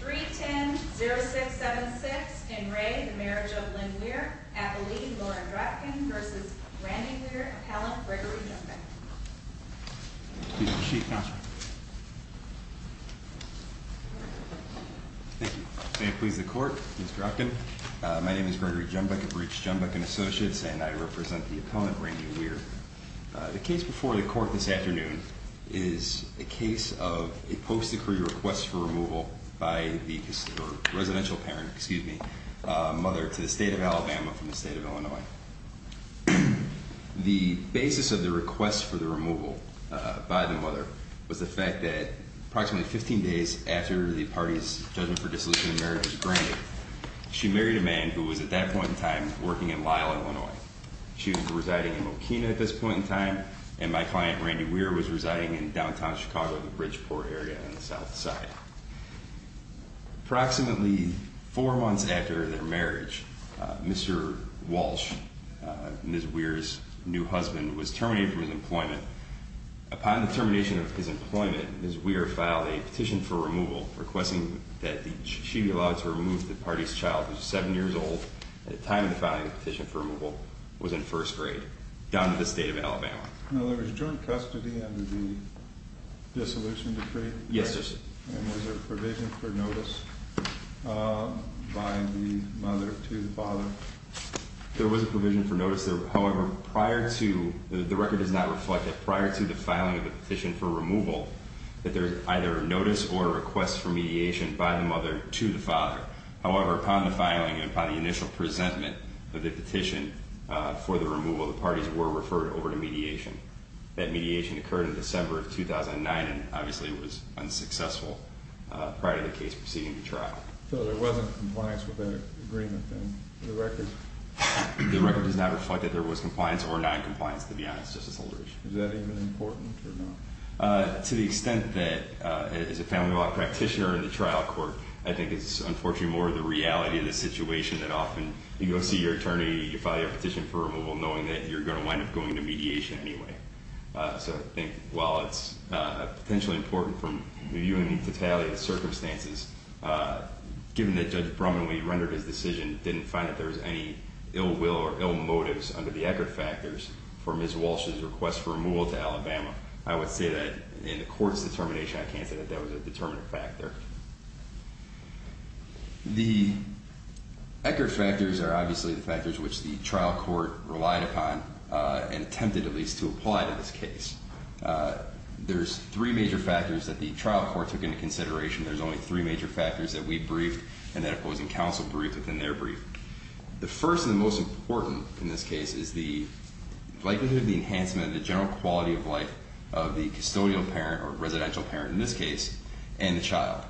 310-0676. In re the Marriage of Lynn Weir, Appellee Lauren Drotkin v. Randy Weir, Appellant Gregory Jumbuck. Please proceed, Counselor. Thank you. May it please the Court, Ms. Drotkin. My name is Gregory Jumbuck of Breach Jumbuck & Associates, and I represent the opponent, Randy Weir. The case before the Court this afternoon is a case of a post-decree request for removal by the residential parent, excuse me, mother to the State of Alabama from the State of Illinois. The basis of the request for the removal by the mother was the fact that approximately 15 days after the party's judgment for dissolution of marriage was granted, she married a man who was at that point in time working in Lyle, Illinois. She was residing in Mokena at this point in time, and my client, Randy Weir, was residing in downtown Chicago in the Bridgeport area on the south side. Approximately four months after their marriage, Mr. Walsh, Ms. Weir's new husband, was terminated from his employment. Upon the termination of his employment, Ms. Weir filed a petition for removal requesting that she be allowed to remove the party's child, who was seven years old, at the time of the filing of the petition for removal, was in first grade, down to the State of Alabama. Now, there was joint custody under the dissolution decree? Yes, there was. And was there provision for notice by the mother to the father? There was a provision for notice. However, the record does not reflect that prior to the filing of the petition for removal that there is either a notice or a request for mediation by the mother to the father. However, upon the filing and upon the initial presentment of the petition for the removal, the parties were referred over to mediation. That mediation occurred in December of 2009 and obviously was unsuccessful prior to the case proceeding to trial. So there wasn't compliance with that agreement then? The record? The record does not reflect that there was compliance or non-compliance, to be honest, Justice Aldrich. Is that even important or not? To the extent that as a family law practitioner in the trial court, I think it's unfortunately more the reality of the situation that often you go see your attorney, you file your petition for removal knowing that you're going to wind up going to mediation anyway. So I think while it's potentially important from viewing the retaliated circumstances, given that Judge Brumman, when he rendered his decision, didn't find that there was any ill will or ill motives under the Eckert factors for Ms. Walsh's request for removal to Alabama, I would say that in the court's determination, I can't say that that was a determinant factor. The Eckert factors are obviously the factors which the trial court relied upon and attempted at least to apply to this case. There's three major factors that the trial court took into consideration. There's only three major factors that we briefed and that opposing counsel briefed within their brief. The first and the most important in this case is the likelihood of the enhancement of the general quality of life of the custodial parent or residential parent in this case and the child.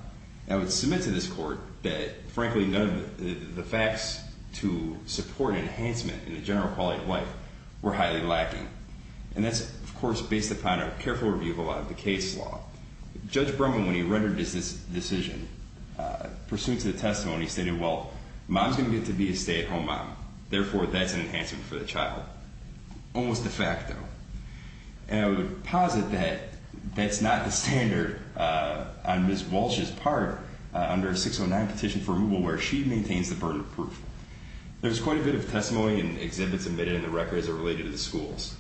I would submit to this court that, frankly, none of the facts to support enhancement in the general quality of life were highly lacking. And that's, of course, based upon a careful review of a lot of the case law. Judge Brumman, when he rendered his decision, pursuant to the testimony, stated, well, mom's going to get to be a stay-at-home mom. Therefore, that's an enhancement for the child. Almost de facto. And I would posit that that's not the standard on Ms. Walsh's part under 609 petition for removal where she maintains the burden of proof. There's quite a bit of testimony and exhibits admitted in the records that are related to the schools.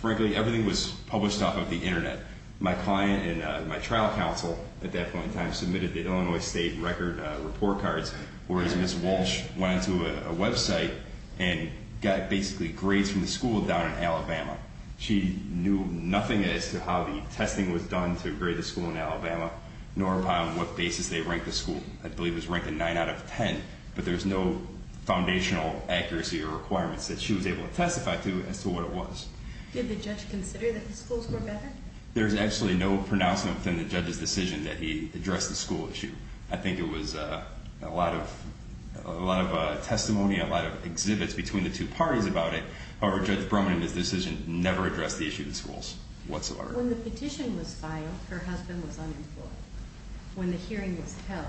Frankly, everything was published off of the Internet. My client and my trial counsel at that point in time submitted the Illinois state record report cards, whereas Ms. Walsh went onto a website and got basically grades from the school down in Alabama. She knew nothing as to how the testing was done to grade the school in Alabama, nor upon what basis they ranked the school. I believe it was ranked a 9 out of 10, but there's no foundational accuracy or requirements that she was able to testify to as to what it was. Did the judge consider that the schools were better? There's actually no pronouncement within the judge's decision that he addressed the school issue. I think it was a lot of testimony, a lot of exhibits between the two parties about it. However, Judge Broman and his decision never addressed the issue of the schools whatsoever. When the petition was filed, her husband was unemployed. When the hearing was held,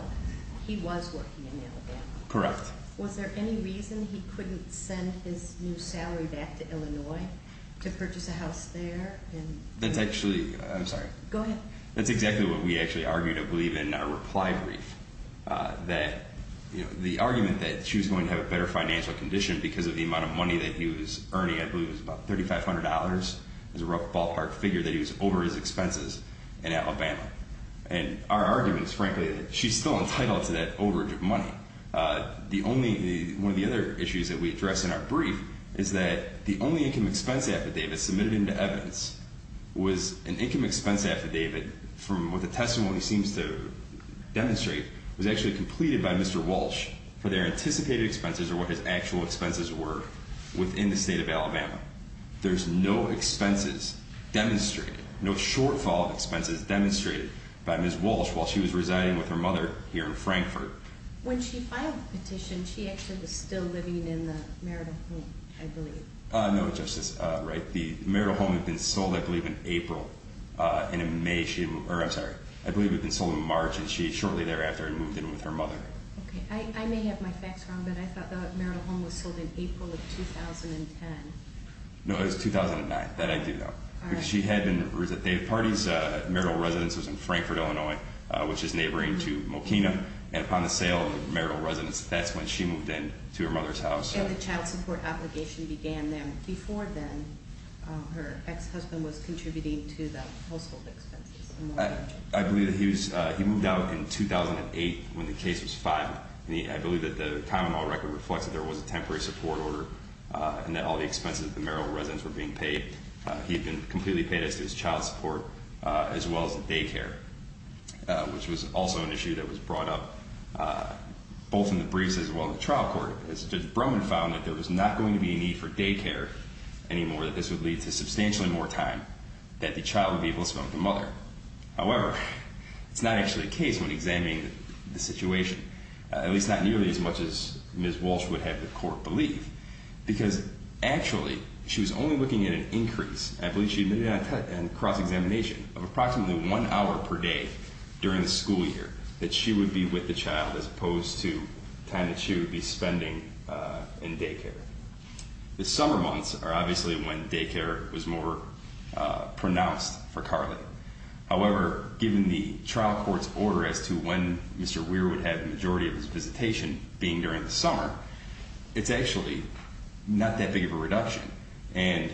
he was working in Alabama. Correct. Was there any reason he couldn't send his new salary back to Illinois to purchase a house there? That's actually, I'm sorry. Go ahead. That's exactly what we actually argued, I believe, in our reply brief, that the argument that she was going to have a better financial condition because of the amount of money that he was earning, I believe it was about $3,500, is a rough ballpark figure that he was over his expenses in Alabama. And our argument is, frankly, that she's still entitled to that overage of money. One of the other issues that we address in our brief is that the only income expense affidavit submitted into evidence was an income expense affidavit from what the testimony seems to demonstrate was actually completed by Mr. Walsh for their anticipated expenses or what his actual expenses were within the state of Alabama. There's no expenses demonstrated, no shortfall of expenses demonstrated by Ms. Walsh while she was residing with her mother here in Frankfurt. When she filed the petition, she actually was still living in the marital home, I believe. No, Justice Wright. The marital home had been sold, I believe, in April. And in May she—or I'm sorry. I believe it had been sold in March, and she shortly thereafter had moved in with her mother. Okay. I may have my facts wrong, but I thought the marital home was sold in April of 2010. No, it was 2009. That I do know. All right. Because she had been—or is it—they had parties. The marital residence was in Frankfurt, Illinois, which is neighboring to Mokena. And upon the sale of the marital residence, that's when she moved in to her mother's house. And the child support obligation began then. Before then, her ex-husband was contributing to the household expenses. I believe that he was—he moved out in 2008 when the case was filed. I believe that the common law record reflects that there was a temporary support order and that all the expenses of the marital residence were being paid. He had been completely paid as to his child support as well as the daycare, which was also an issue that was brought up both in the briefs as well as the trial court. As Judge Brumman found that there was not going to be a need for daycare anymore, that this would lead to substantially more time that the child would be able to spend with the mother. However, it's not actually the case when examining the situation, at least not nearly as much as Ms. Walsh would have the court believe, because actually she was only looking at an increase—I believe she admitted on cross-examination— of approximately one hour per day during the school year that she would be with the child as opposed to time that she would be spending in daycare. The summer months are obviously when daycare was more pronounced for Carly. However, given the trial court's order as to when Mr. Weir would have the majority of his visitation, being during the summer, it's actually not that big of a reduction. And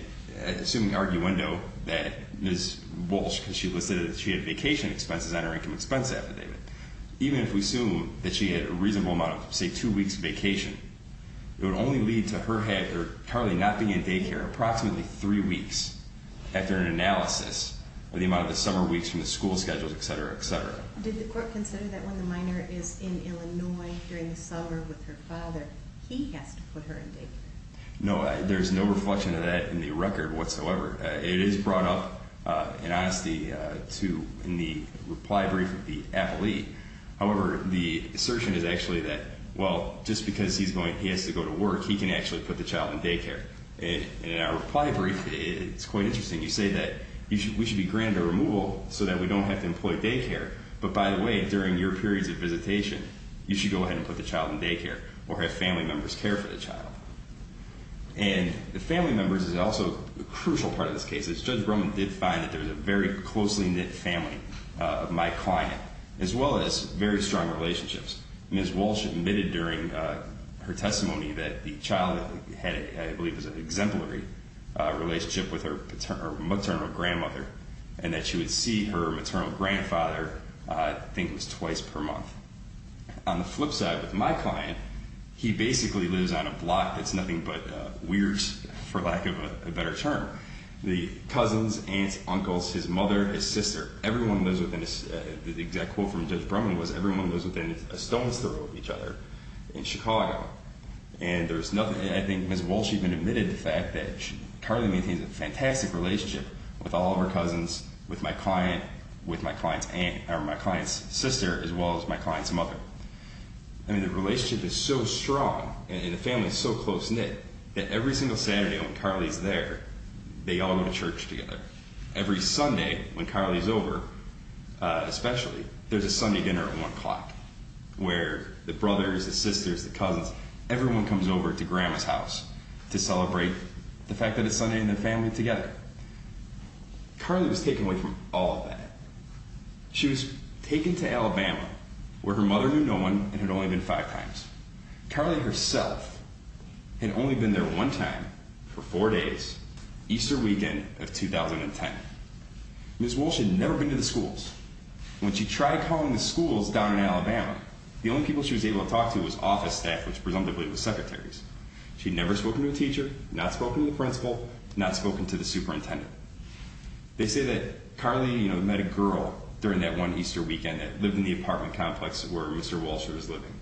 assuming arguendo that Ms. Walsh, because she listed that she had vacation expenses on her income expense affidavit, even if we assume that she had a reasonable amount of, say, two weeks vacation, it would only lead to her having—or Carly not being in daycare approximately three weeks after an analysis of the amount of the summer weeks from the school schedules, etc., etc. Did the court consider that when the minor is in Illinois during the summer with her father, he has to put her in daycare? No, there's no reflection of that in the record whatsoever. It is brought up in honesty in the reply brief of the appellee. However, the assertion is actually that, well, just because he has to go to work, he can actually put the child in daycare. And in our reply brief, it's quite interesting. You say that we should be granted a removal so that we don't have to employ daycare. But by the way, during your periods of visitation, you should go ahead and put the child in daycare or have family members care for the child. And the family members is also a crucial part of this case. Judge Brumman did find that there was a very closely knit family of my client as well as very strong relationships. Ms. Walsh admitted during her testimony that the child had, I believe, an exemplary relationship with her maternal grandmother and that she would see her maternal grandfather, I think it was twice per month. On the flip side, with my client, he basically lives on a block that's nothing but weird, for lack of a better term. The cousins, aunts, uncles, his mother, his sister, everyone lives within, the exact quote from Judge Brumman was, everyone lives within a stone's throw of each other in Chicago. And there's nothing, I think Ms. Walsh even admitted the fact that she currently maintains a fantastic relationship with all of her cousins, with my client's aunt or my client's sister as well as my client's mother. I mean the relationship is so strong and the family is so close knit that every single Saturday when Carly's there, they all go to church together. Every Sunday when Carly's over, especially, there's a Sunday dinner at 1 o'clock where the brothers, the sisters, the cousins, everyone comes over to grandma's house to celebrate the fact that it's Sunday and they're family together. Carly was taken away from all of that. She was taken to Alabama where her mother knew no one and had only been five times. Carly herself had only been there one time for four days, Easter weekend of 2010. Ms. Walsh had never been to the schools. When she tried calling the schools down in Alabama, the only people she was able to talk to was office staff which presumably was secretaries. She'd never spoken to a teacher, not spoken to the principal, not spoken to the superintendent. They say that Carly met a girl during that one Easter weekend that lived in the apartment complex where Mr. Walsh was living.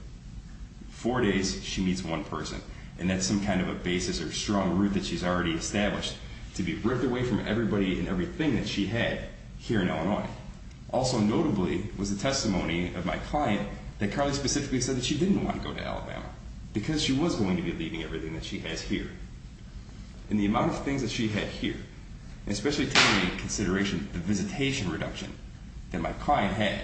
Four days, she meets one person and that's some kind of a basis or strong root that she's already established to be ripped away from everybody and everything that she had here in Illinois. Also notably was the testimony of my client that Carly specifically said that she didn't want to go to Alabama because she was going to be leaving everything that she has here. And the amount of things that she had here, especially taking into consideration the visitation reduction that my client had,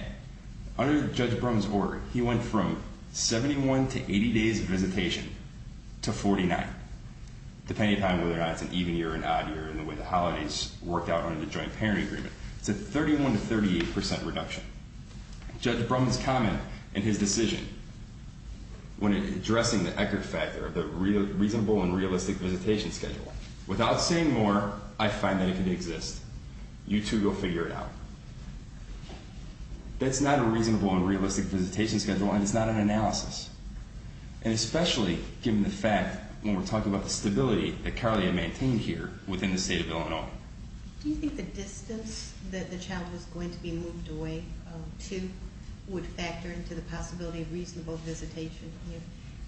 under Judge Brum's order, he went from 71 to 80 days of visitation to 49, depending upon whether or not it's an even year or an odd year and the way the holidays worked out under the Joint Parent Agreement. It's a 31 to 38 percent reduction. Judge Brum's comment and his decision when addressing the Eckert factor, the reasonable and realistic visitation schedule, without saying more, I find that it can exist. You too go figure it out. That's not a reasonable and realistic visitation schedule and it's not an analysis, and especially given the fact when we're talking about the stability that Carly had maintained here within the state of Illinois. Do you think the distance that the child was going to be moved away to would factor into the possibility of reasonable visitation?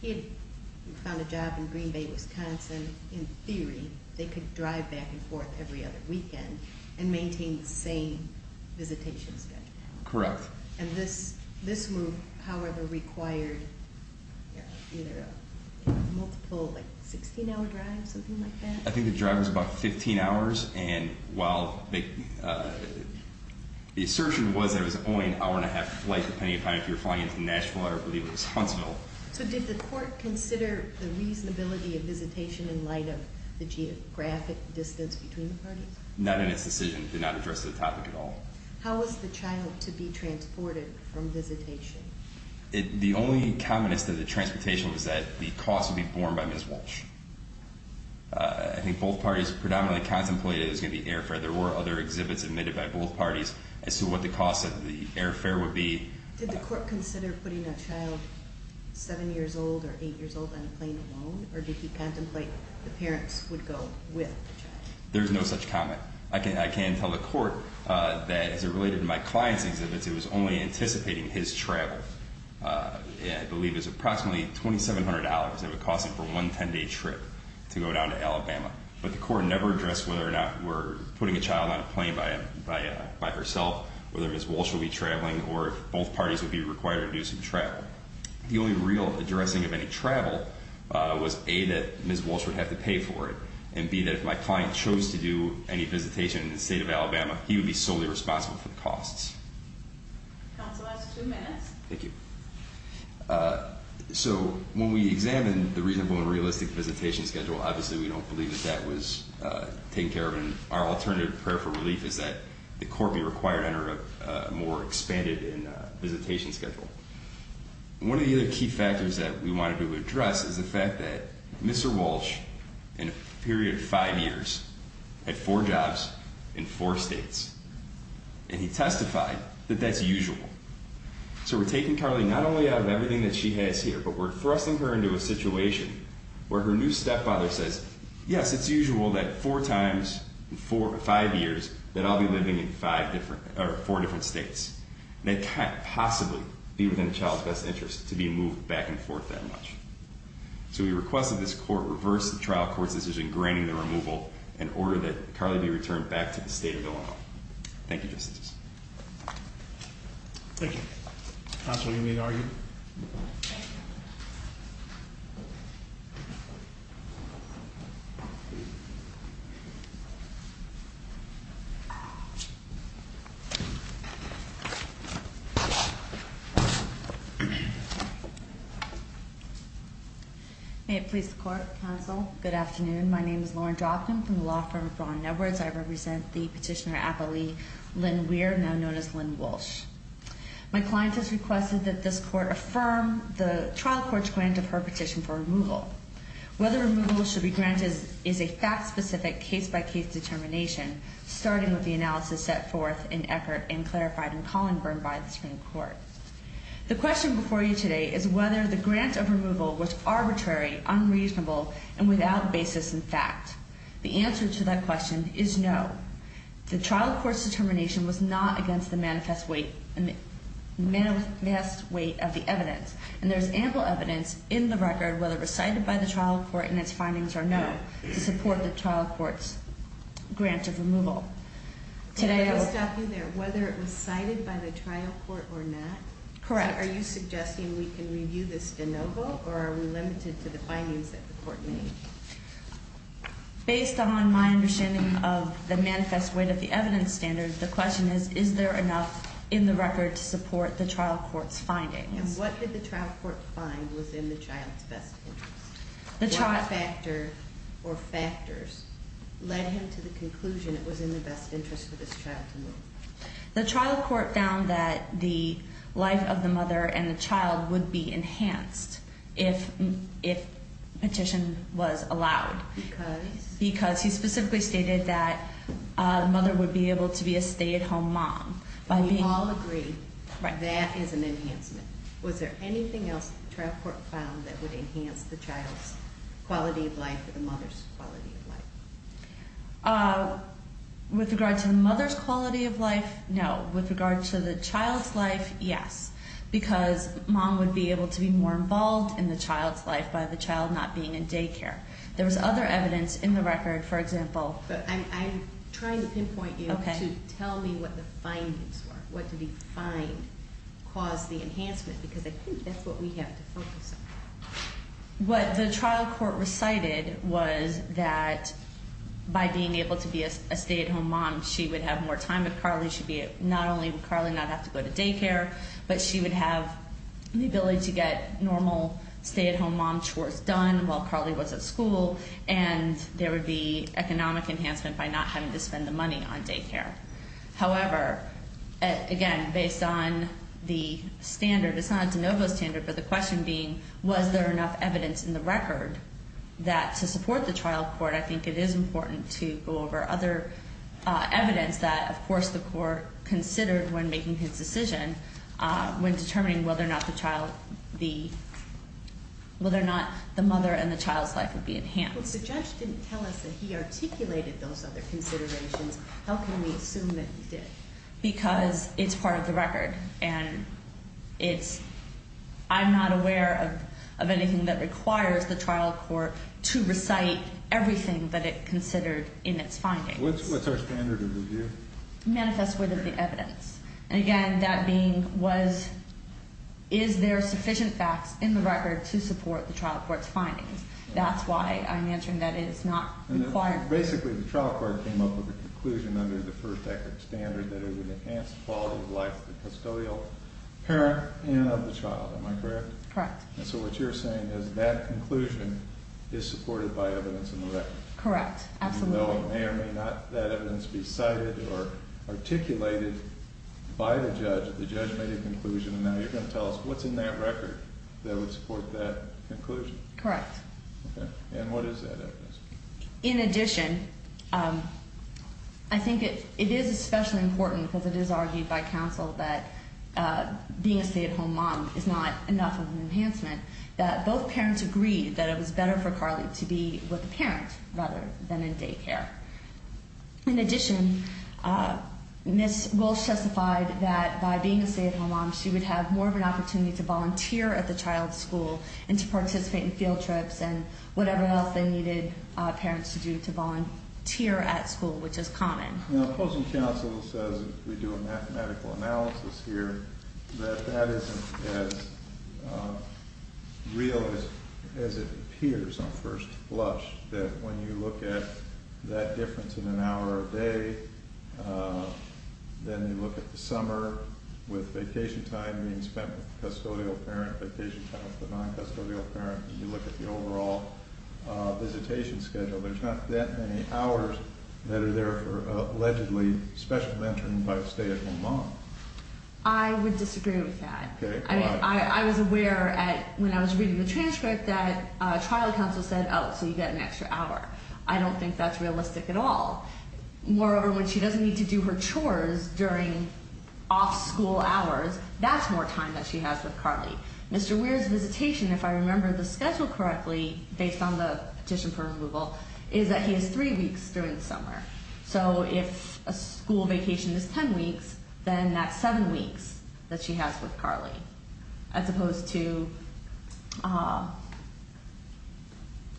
He had found a job in Green Bay, Wisconsin. In theory, they could drive back and forth every other weekend and maintain the same visitation schedule. Correct. And this move, however, required either a multiple 16-hour drive, something like that? I think the drive was about 15 hours, and while the assertion was that it was only an hour and a half flight, depending upon if you were flying into Nashville or, I believe, Wisconsin. So did the court consider the reasonability of visitation in light of the geographic distance between the parties? Not in its decision. It did not address the topic at all. How was the child to be transported from visitation? The only comment as to the transportation was that the cost would be borne by Ms. Walsh. I think both parties predominantly contemplated it was going to be airfare. There were other exhibits admitted by both parties as to what the cost of the airfare would be. Did the court consider putting a child 7 years old or 8 years old on a plane alone, or did he contemplate the parents would go with the child? There is no such comment. I can tell the court that, as it related to my client's exhibits, it was only anticipating his travel. I believe it was approximately $2,700 that would cost him for one 10-day trip to go down to Alabama. But the court never addressed whether or not we're putting a child on a plane by herself, whether Ms. Walsh will be traveling, or if both parties would be required to do some travel. The only real addressing of any travel was, A, that Ms. Walsh would have to pay for it, and, B, that if my client chose to do any visitation in the state of Alabama, he would be solely responsible for the costs. Counsel has two minutes. Thank you. So when we examine the reasonable and realistic visitation schedule, obviously we don't believe that that was taken care of, and our alternative prayer for relief is that the court be required under a more expanded visitation schedule. One of the other key factors that we wanted to address is the fact that Mr. Walsh, in a period of five years, had four jobs in four states. And he testified that that's usual. So we're taking Carly not only out of everything that she has here, but we're thrusting her into a situation where her new stepfather says, yes, it's usual that four times in five years that I'll be living in four different states. And it can't possibly be within a child's best interest to be moved back and forth that much. So we request that this court reverse the trial court's decision granting the removal in order that Carly be returned back to the state of Illinois. Thank you, Justices. Thank you. Counsel, do you need to argue? Thank you. May it please the Court, Counsel. Good afternoon. My name is Lauren Dropton from the law firm of Braun Networks. I represent the petitioner appellee Lynn Weir, now known as Lynn Walsh. My client has requested that this court affirm the trial court's grant of her petition for removal. Whether removal should be granted is a fact-specific, case-by-case determination, starting with the analysis set forth in Eckert and clarified in Collinburn by the Supreme Court. The question before you today is whether the grant of removal was arbitrary, unreasonable, and without basis in fact. The answer to that question is no. The trial court's determination was not against the manifest weight of the evidence, and there is ample evidence in the record, whether recited by the trial court in its findings or no, to support the trial court's grant of removal. Can I just stop you there? Whether it was cited by the trial court or not? Correct. Are you suggesting we can review this de novo, or are we limited to the findings that the court made? Based on my understanding of the manifest weight of the evidence standard, the question is, is there enough in the record to support the trial court's findings? And what did the trial court find was in the child's best interest? What factor or factors led him to the conclusion it was in the best interest for this child to move? The trial court found that the life of the mother and the child would be enhanced if petition was allowed. Because? Because he specifically stated that the mother would be able to be a stay-at-home mom. We all agree that is an enhancement. Was there anything else the trial court found that would enhance the child's quality of life or the mother's quality of life? With regard to the mother's quality of life, no. With regard to the child's life, yes. Because mom would be able to be more involved in the child's life by the child not being in daycare. There was other evidence in the record, for example. I'm trying to pinpoint you to tell me what the findings were. What did he find caused the enhancement? Because I think that's what we have to focus on. What the trial court recited was that by being able to be a stay-at-home mom, she would have more time with Carly. Not only would Carly not have to go to daycare, but she would have the ability to get normal stay-at-home mom chores done while Carly was at school. And there would be economic enhancement by not having to spend the money on daycare. However, again, based on the standard, it's not a de novo standard, but the question being, was there enough evidence in the record that to support the trial court, I think it is important to go over other evidence that, of course, the court considered when making its decision, when determining whether or not the mother and the child's life would be enhanced. If the judge didn't tell us that he articulated those other considerations, how can we assume that he did? And I'm not aware of anything that requires the trial court to recite everything that it considered in its findings. What's our standard of review? Manifest with the evidence. And again, that being was, is there sufficient facts in the record to support the trial court's findings? That's why I'm answering that it is not required. Basically, the trial court came up with a conclusion under the first-decker standard that it would enhance the quality of life of the custodial parent and of the child. Am I correct? Correct. And so what you're saying is that conclusion is supported by evidence in the record. Correct. Absolutely. Even though it may or may not, that evidence be cited or articulated by the judge, the judge made a conclusion, and now you're going to tell us what's in that record that would support that conclusion. Correct. Okay. And what is that evidence? In addition, I think it is especially important because it is argued by counsel that being a stay-at-home mom is not enough of an enhancement, that both parents agreed that it was better for Carly to be with a parent rather than in daycare. In addition, Ms. Walsh testified that by being a stay-at-home mom, she would have more of an opportunity to volunteer at the child's school and to participate in field trips and whatever else they needed parents to do to volunteer at school, which is common. Now, opposing counsel says if we do a mathematical analysis here that that isn't as real as it appears on first blush, that when you look at that difference in an hour a day, then you look at the summer with vacation time being spent with the custodial parent, vacation time with the non-custodial parent, and you look at the overall visitation schedule, there's not that many hours that are there for allegedly special mentoring by a stay-at-home mom. I would disagree with that. Okay. Why? I was aware when I was reading the transcript that trial counsel said, oh, so you get an extra hour. I don't think that's realistic at all. Moreover, when she doesn't need to do her chores during off-school hours, that's more time that she has with Carly. Mr. Weir's visitation, if I remember the schedule correctly, based on the petition for removal, is that he has three weeks during the summer. So if a school vacation is ten weeks, then that's seven weeks that she has with Carly as opposed to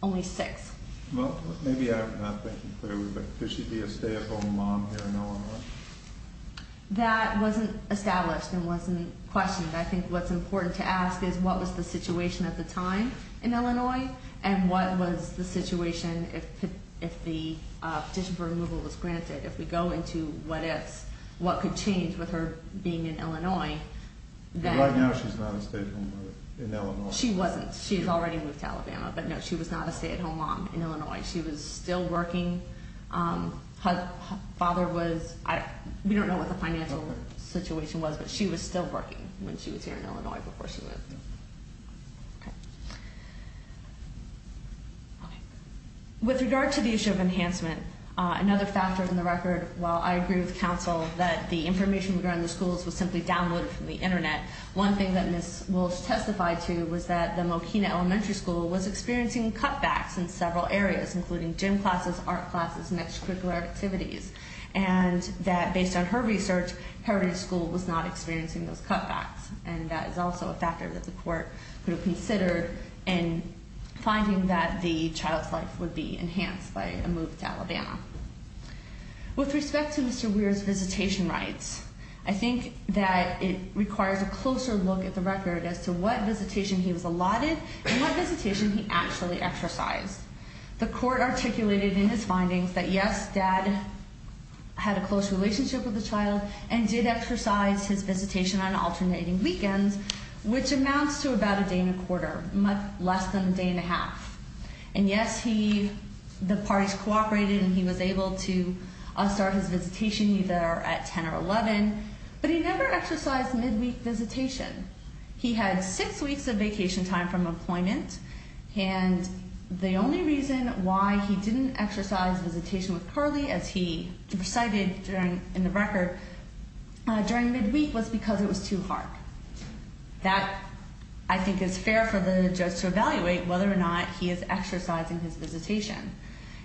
only six. Well, maybe I'm not thinking clearly, but could she be a stay-at-home mom here in Illinois? That wasn't established and wasn't questioned. I think what's important to ask is what was the situation at the time in Illinois and what was the situation if the petition for removal was granted. If we go into what ifs, what could change with her being in Illinois. Right now she's not a stay-at-home mother in Illinois. She wasn't. She's already moved to Alabama. But, no, she was not a stay-at-home mom in Illinois. She was still working. Her father was... we don't know what the financial situation was, but she was still working when she was here in Illinois before she moved. With regard to the issue of enhancement, another factor in the record, while I agree with counsel, that the information regarding the schools was simply downloaded from the Internet, one thing that Ms. Walsh testified to was that the Moquina Elementary School was experiencing cutbacks in several areas, including gym classes, art classes, and extracurricular activities, and that based on her research, Heritage School was not experiencing those cutbacks. And that is also a factor that the court could have considered in finding that the child's life would be enhanced by a move to Alabama. With respect to Mr. Weir's visitation rights, I think that it requires a closer look at the record as to what visitation he was allotted and what visitation he actually exercised. The court articulated in his findings that, yes, dad had a close relationship with the child and did exercise his visitation on alternating weekends, which amounts to about a day and a quarter, less than a day and a half. And yes, the parties cooperated and he was able to start his visitation either at 10 or 11, but he never exercised midweek visitation. He had six weeks of vacation time from employment, and the only reason why he didn't exercise visitation with Curly, as he recited in the record, during midweek was because it was too hard. That, I think, is fair for the judge to evaluate whether or not he is exercising his visitation.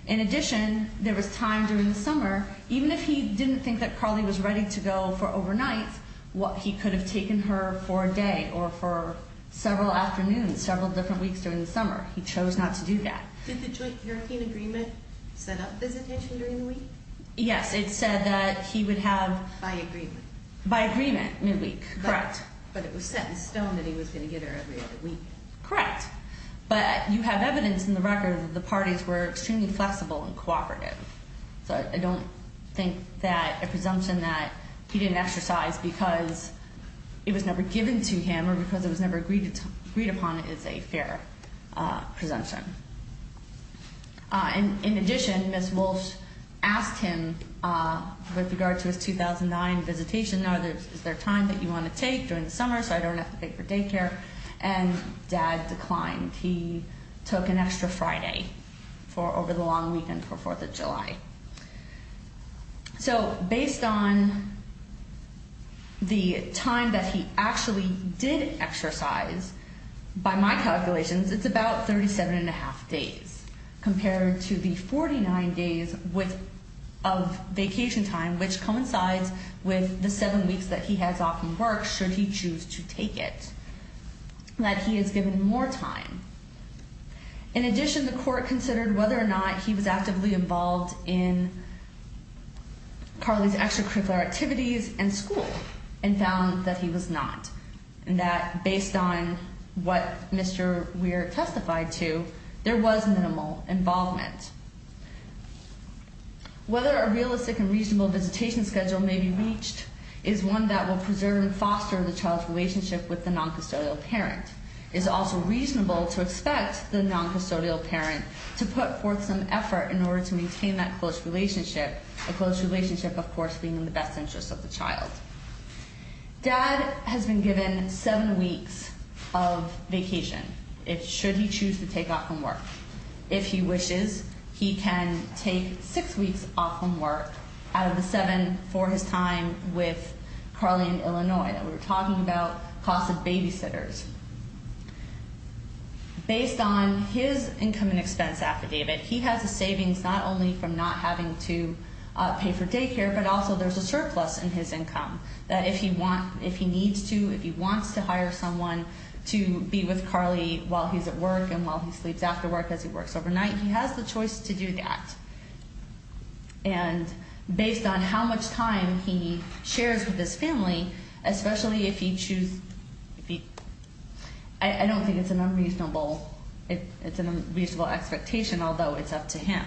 In addition, there was time during the summer, even if he didn't think that Curly was ready to go for overnight, he could have taken her for a day or for several afternoons, several different weeks during the summer. He chose not to do that. Did the joint hurricane agreement set up visitation during the week? Yes, it said that he would have... By agreement. By agreement, midweek, correct. But it was set in stone that he was going to get her every other week. Correct. But you have evidence in the record that the parties were extremely flexible and cooperative. So I don't think that a presumption that he didn't exercise because it was never given to him or because it was never agreed upon is a fair presumption. In addition, Ms. Walsh asked him with regard to his 2009 visitation, is there time that you want to take during the summer so I don't have to pay for daycare? And Dad declined. He took an extra Friday over the long weekend for Fourth of July. So based on the time that he actually did exercise, by my calculations, it's about 37 1⁄2 days compared to the 49 days of vacation time which coincides with the seven weeks that he has off from work should he choose to take it, that he is given more time. In addition, the court considered whether or not he was actively involved in Carly's extracurricular activities and school and found that he was not, and that based on what Mr. Weir testified to, there was minimal involvement. Whether a realistic and reasonable visitation schedule may be reached is one that will preserve and foster the child's relationship with the noncustodial parent. It is also reasonable to expect the noncustodial parent to put forth some effort in order to maintain that close relationship, a close relationship, of course, being in the best interest of the child. Dad has been given seven weeks of vacation should he choose to take off from work. If he wishes, he can take six weeks off from work out of the seven for his time with Carly in Illinois that we were talking about, cost of babysitters. Based on his income and expense affidavit, he has a savings not only from not having to pay for daycare, but also there's a surplus in his income that if he wants, if he needs to, if he wants to hire someone to be with Carly while he's at work and while he sleeps after work as he works overnight, he has the choice to do that. And based on how much time he shares with his family, especially if he chooses, I don't think it's an unreasonable, it's an unreasonable expectation, although it's up to him.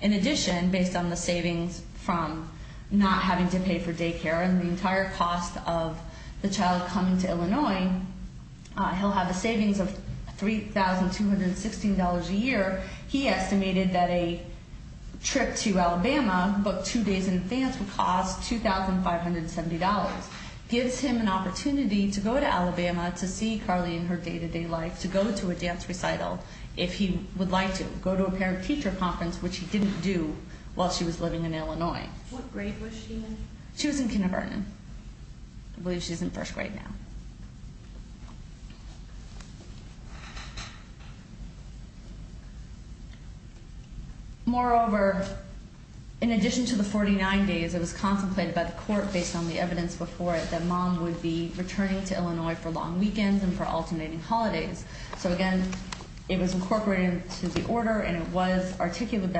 In addition, based on the savings from not having to pay for daycare and the entire cost of the child coming to Illinois, he'll have a savings of $3,216 a year. He estimated that a trip to Alabama booked two days in advance would cost $2,570, gives him an opportunity to go to Alabama to see Carly in her day-to-day life, to go to a dance recital if he would like to, to go to a parent-teacher conference, which he didn't do while she was living in Illinois. What grade was she in? She was in kindergarten. I believe she's in first grade now. Moreover, in addition to the 49 days, it was contemplated by the court based on the evidence before it that mom would be returning to Illinois for long weekends and for alternating holidays. So again, it was incorporated into the order and it was articulated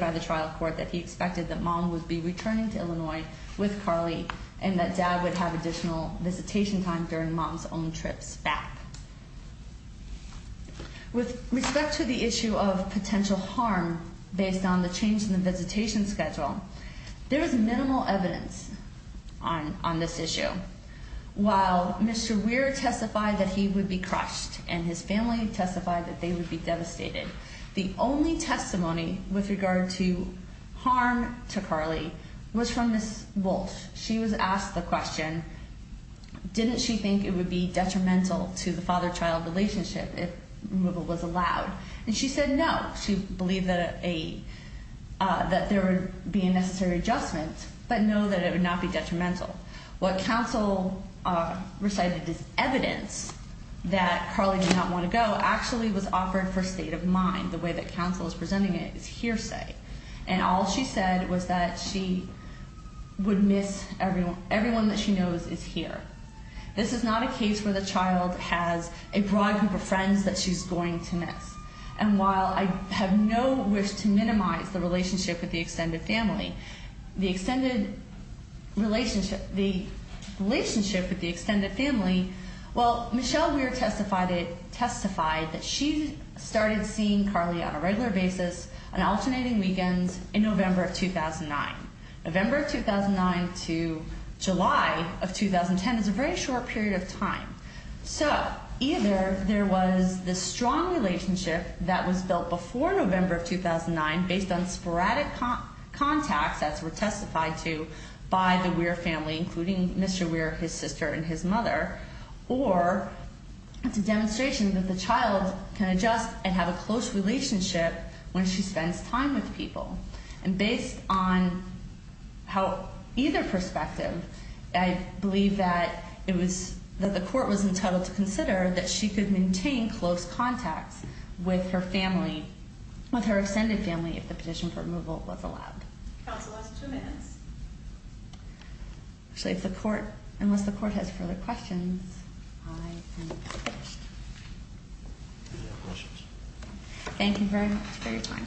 by the trial court that he expected that mom would be returning to Illinois with Carly and that dad would have additional visitation time during mom's own trips back. With respect to the issue of potential harm based on the change in the visitation schedule, there is minimal evidence on this issue. While Mr. Weir testified that he would be crushed and his family testified that they would be devastated, the only testimony with regard to harm to Carly was from Ms. Wolfe. She was asked the question, didn't she think it would be detrimental to the father-child relationship if removal was allowed? And she said no. She believed that there would be a necessary adjustment, but no, that it would not be detrimental. What counsel recited as evidence that Carly did not want to go actually was offered for state of mind. The way that counsel is presenting it is hearsay. And all she said was that she would miss everyone that she knows is here. This is not a case where the child has a broad group of friends that she's going to miss. And while I have no wish to minimize the relationship with the extended family, the extended relationship, the relationship with the extended family, well, Michelle Weir testified that she started seeing Carly on a regular basis on alternating weekends in November of 2009. November of 2009 to July of 2010 is a very short period of time. So either there was this strong relationship that was built before November of 2009 based on sporadic contacts as were testified to by the Weir family, including Mr. Weir, his sister, and his mother, or it's a demonstration that the child can adjust and have a close relationship when she spends time with people. And based on either perspective, I believe that the court was entitled to consider that she could maintain close contacts with her extended family if the petition for removal was allowed. Counsel has two minutes. Actually, unless the court has further questions, I am finished. Any other questions? Thank you very much. Very kind.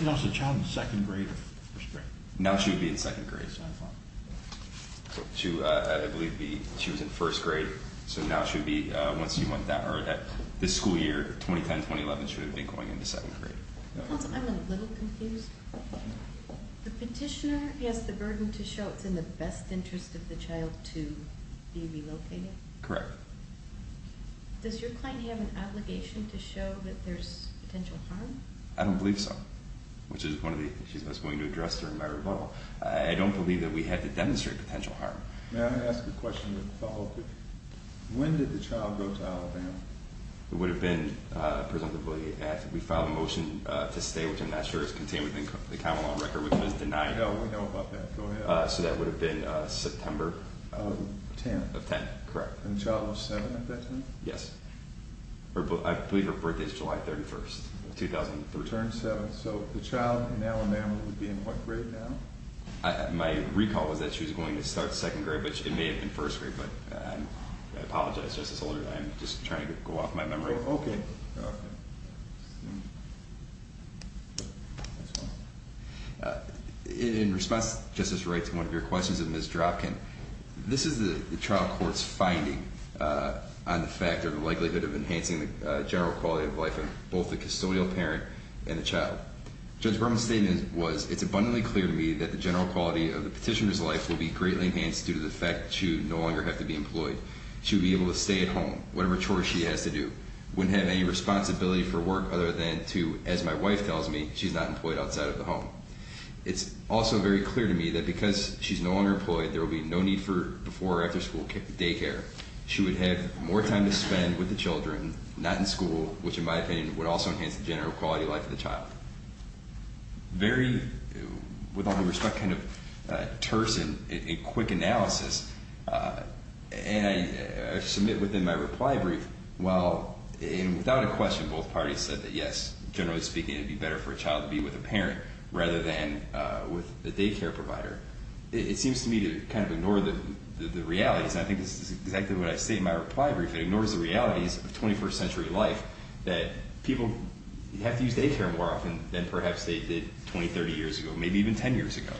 You know, is the child in second grade or first grade? Now she would be in second grade. I believe she was in first grade. So now she would be, once you went that, or this school year, 2010-2011, she would have been going into second grade. Counsel, I'm a little confused. The petitioner has the burden to show it's in the best interest of the child to be relocated? Correct. Does your client have an obligation to show that there's potential harm? I don't believe so, which is one of the issues I was going to address during my rebuttal. I don't believe that we had to demonstrate potential harm. May I ask a question that follows? When did the child go to Alabama? It would have been, presumably, after we filed a motion to stay, which I'm not sure is contained within the common law record, which was denied. We know about that. Go ahead. So that would have been September? Of 10. Of 10, correct. And the child was 7 at that time? Yes. I believe her birthday is July 31, 2003. Returned 7. So the child in Alabama would be in what grade now? My recall was that she was going to start second grade, which it may have been first grade, but I apologize, Justice Holder. I'm just trying to go off my memory. Okay. In response, Justice Wright, to one of your questions of Ms. Dropkin, this is the trial court's finding on the fact or the likelihood of enhancing the general quality of life of both the custodial parent and the child. Judge Berman's statement was, it's abundantly clear to me that the general quality of the petitioner's life will be greatly enhanced due to the fact that she would no longer have to be employed. She would be able to stay at home, whatever chores she has to do. Wouldn't have any responsibility for work other than to, as my wife tells me, she's not employed outside of the home. It's also very clear to me that because she's no longer employed, there will be no need for before or after school daycare. She would have more time to spend with the children, not in school, which in my opinion would also enhance the general quality of life of the child. Very, with all due respect, kind of terse and quick analysis. And I submit within my reply brief, well, and without a question, both parties said that yes, generally speaking, it would be better for a child to be with a parent rather than with a daycare provider. It seems to me to kind of ignore the realities. And I think this is exactly what I say in my reply brief. It ignores the realities of 21st century life that people have to use daycare more often than perhaps they did 20, 30 years ago, maybe even 10 years ago.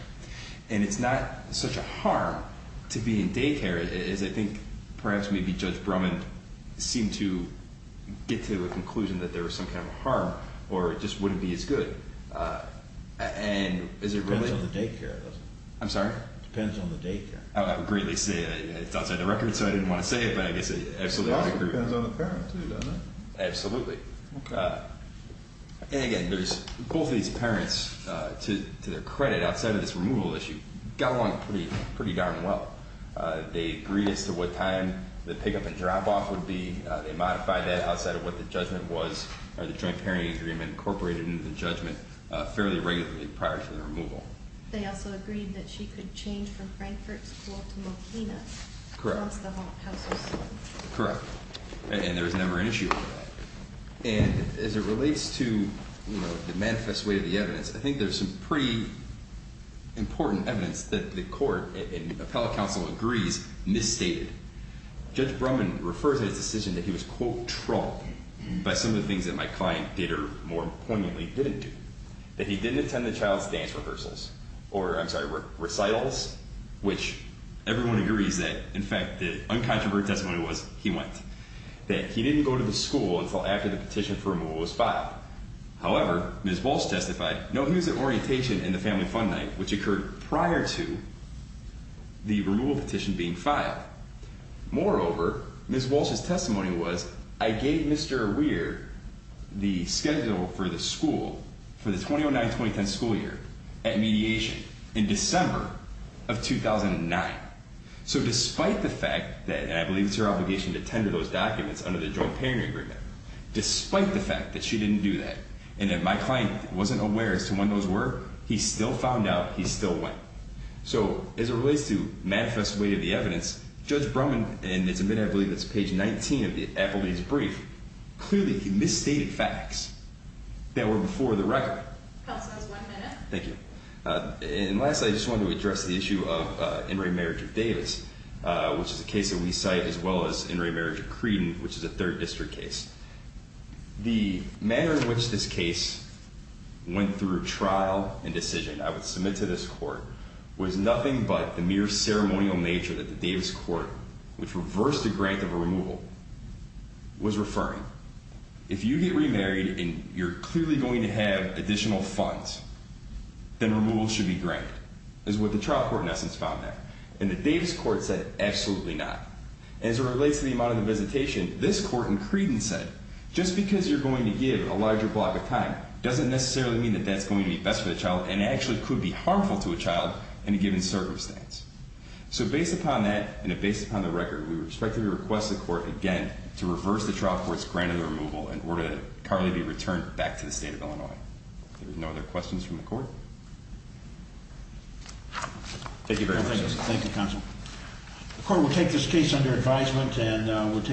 And it's not such a harm to be in daycare as I think perhaps maybe Judge Brumman seemed to get to a conclusion that there was some kind of harm or it just wouldn't be as good. And is it really? Depends on the daycare, doesn't it? I'm sorry? Depends on the daycare. I would greatly say it's outside the record, so I didn't want to say it, but I guess I absolutely agree. Depends on the parent, too, doesn't it? Absolutely. And again, both these parents, to their credit, outside of this removal issue, got along pretty darn well. They agreed as to what time the pick-up and drop-off would be. They modified that outside of what the judgment was or the joint parenting agreement incorporated into the judgment fairly regularly prior to the removal. They also agreed that she could change from Frankfort School to Mocena. Correct. That's the House decision. Correct. And there was never an issue with that. And as it relates to the manifest way of the evidence, I think there's some pretty important evidence that the court and appellate counsel agrees misstated. Judge Brumman referred to his decision that he was, quote, trumped by some of the things that my client did or more poignantly didn't do. That he didn't attend the child's dance rehearsals or, I'm sorry, recitals, which everyone agrees that, in fact, the uncontroverted testimony was he went. That he didn't go to the school until after the petition for removal was filed. However, Ms. Walsh testified, no, he was at orientation and the family fun night, which occurred prior to the removal petition being filed. Moreover, Ms. Walsh's testimony was, I gave Mr. Weir the schedule for the school for the 2009-2010 school year at mediation in December of 2009. So despite the fact that, and I believe it's your obligation to tender those documents under the joint parenting agreement. Despite the fact that she didn't do that and that my client wasn't aware as to when those were, he still found out, he still went. So as it relates to manifest way of the evidence, Judge Brumman, and it's a minute, I believe it's page 19 of the appellate's brief. Clearly, he misstated facts that were before the record. Counsel has one minute. Thank you. And lastly, I just wanted to address the issue of in re marriage of Davis, which is a case that we cite as well as in re marriage of Creedon, which is a third district case. The manner in which this case went through trial and decision, I would submit to this court, was nothing but the mere ceremonial nature that the Davis court, which reversed the grant of removal, was referring. If you get remarried and you're clearly going to have additional funds, then removal should be granted, is what the trial court in essence found that. And the Davis court said absolutely not. As it relates to the amount of the visitation, this court in Creedon said, just because you're going to give a larger block of time, doesn't necessarily mean that that's going to be best for the child and actually could be harmful to a child in a given circumstance. So based upon that, and based upon the record, we respectfully request the court again to reverse the trial court's grant of the removal in order to currently be returned back to the state of Illinois. There are no other questions from the court. Thank you very much. Thank you, counsel. The court will take this case under advisement and we'll take.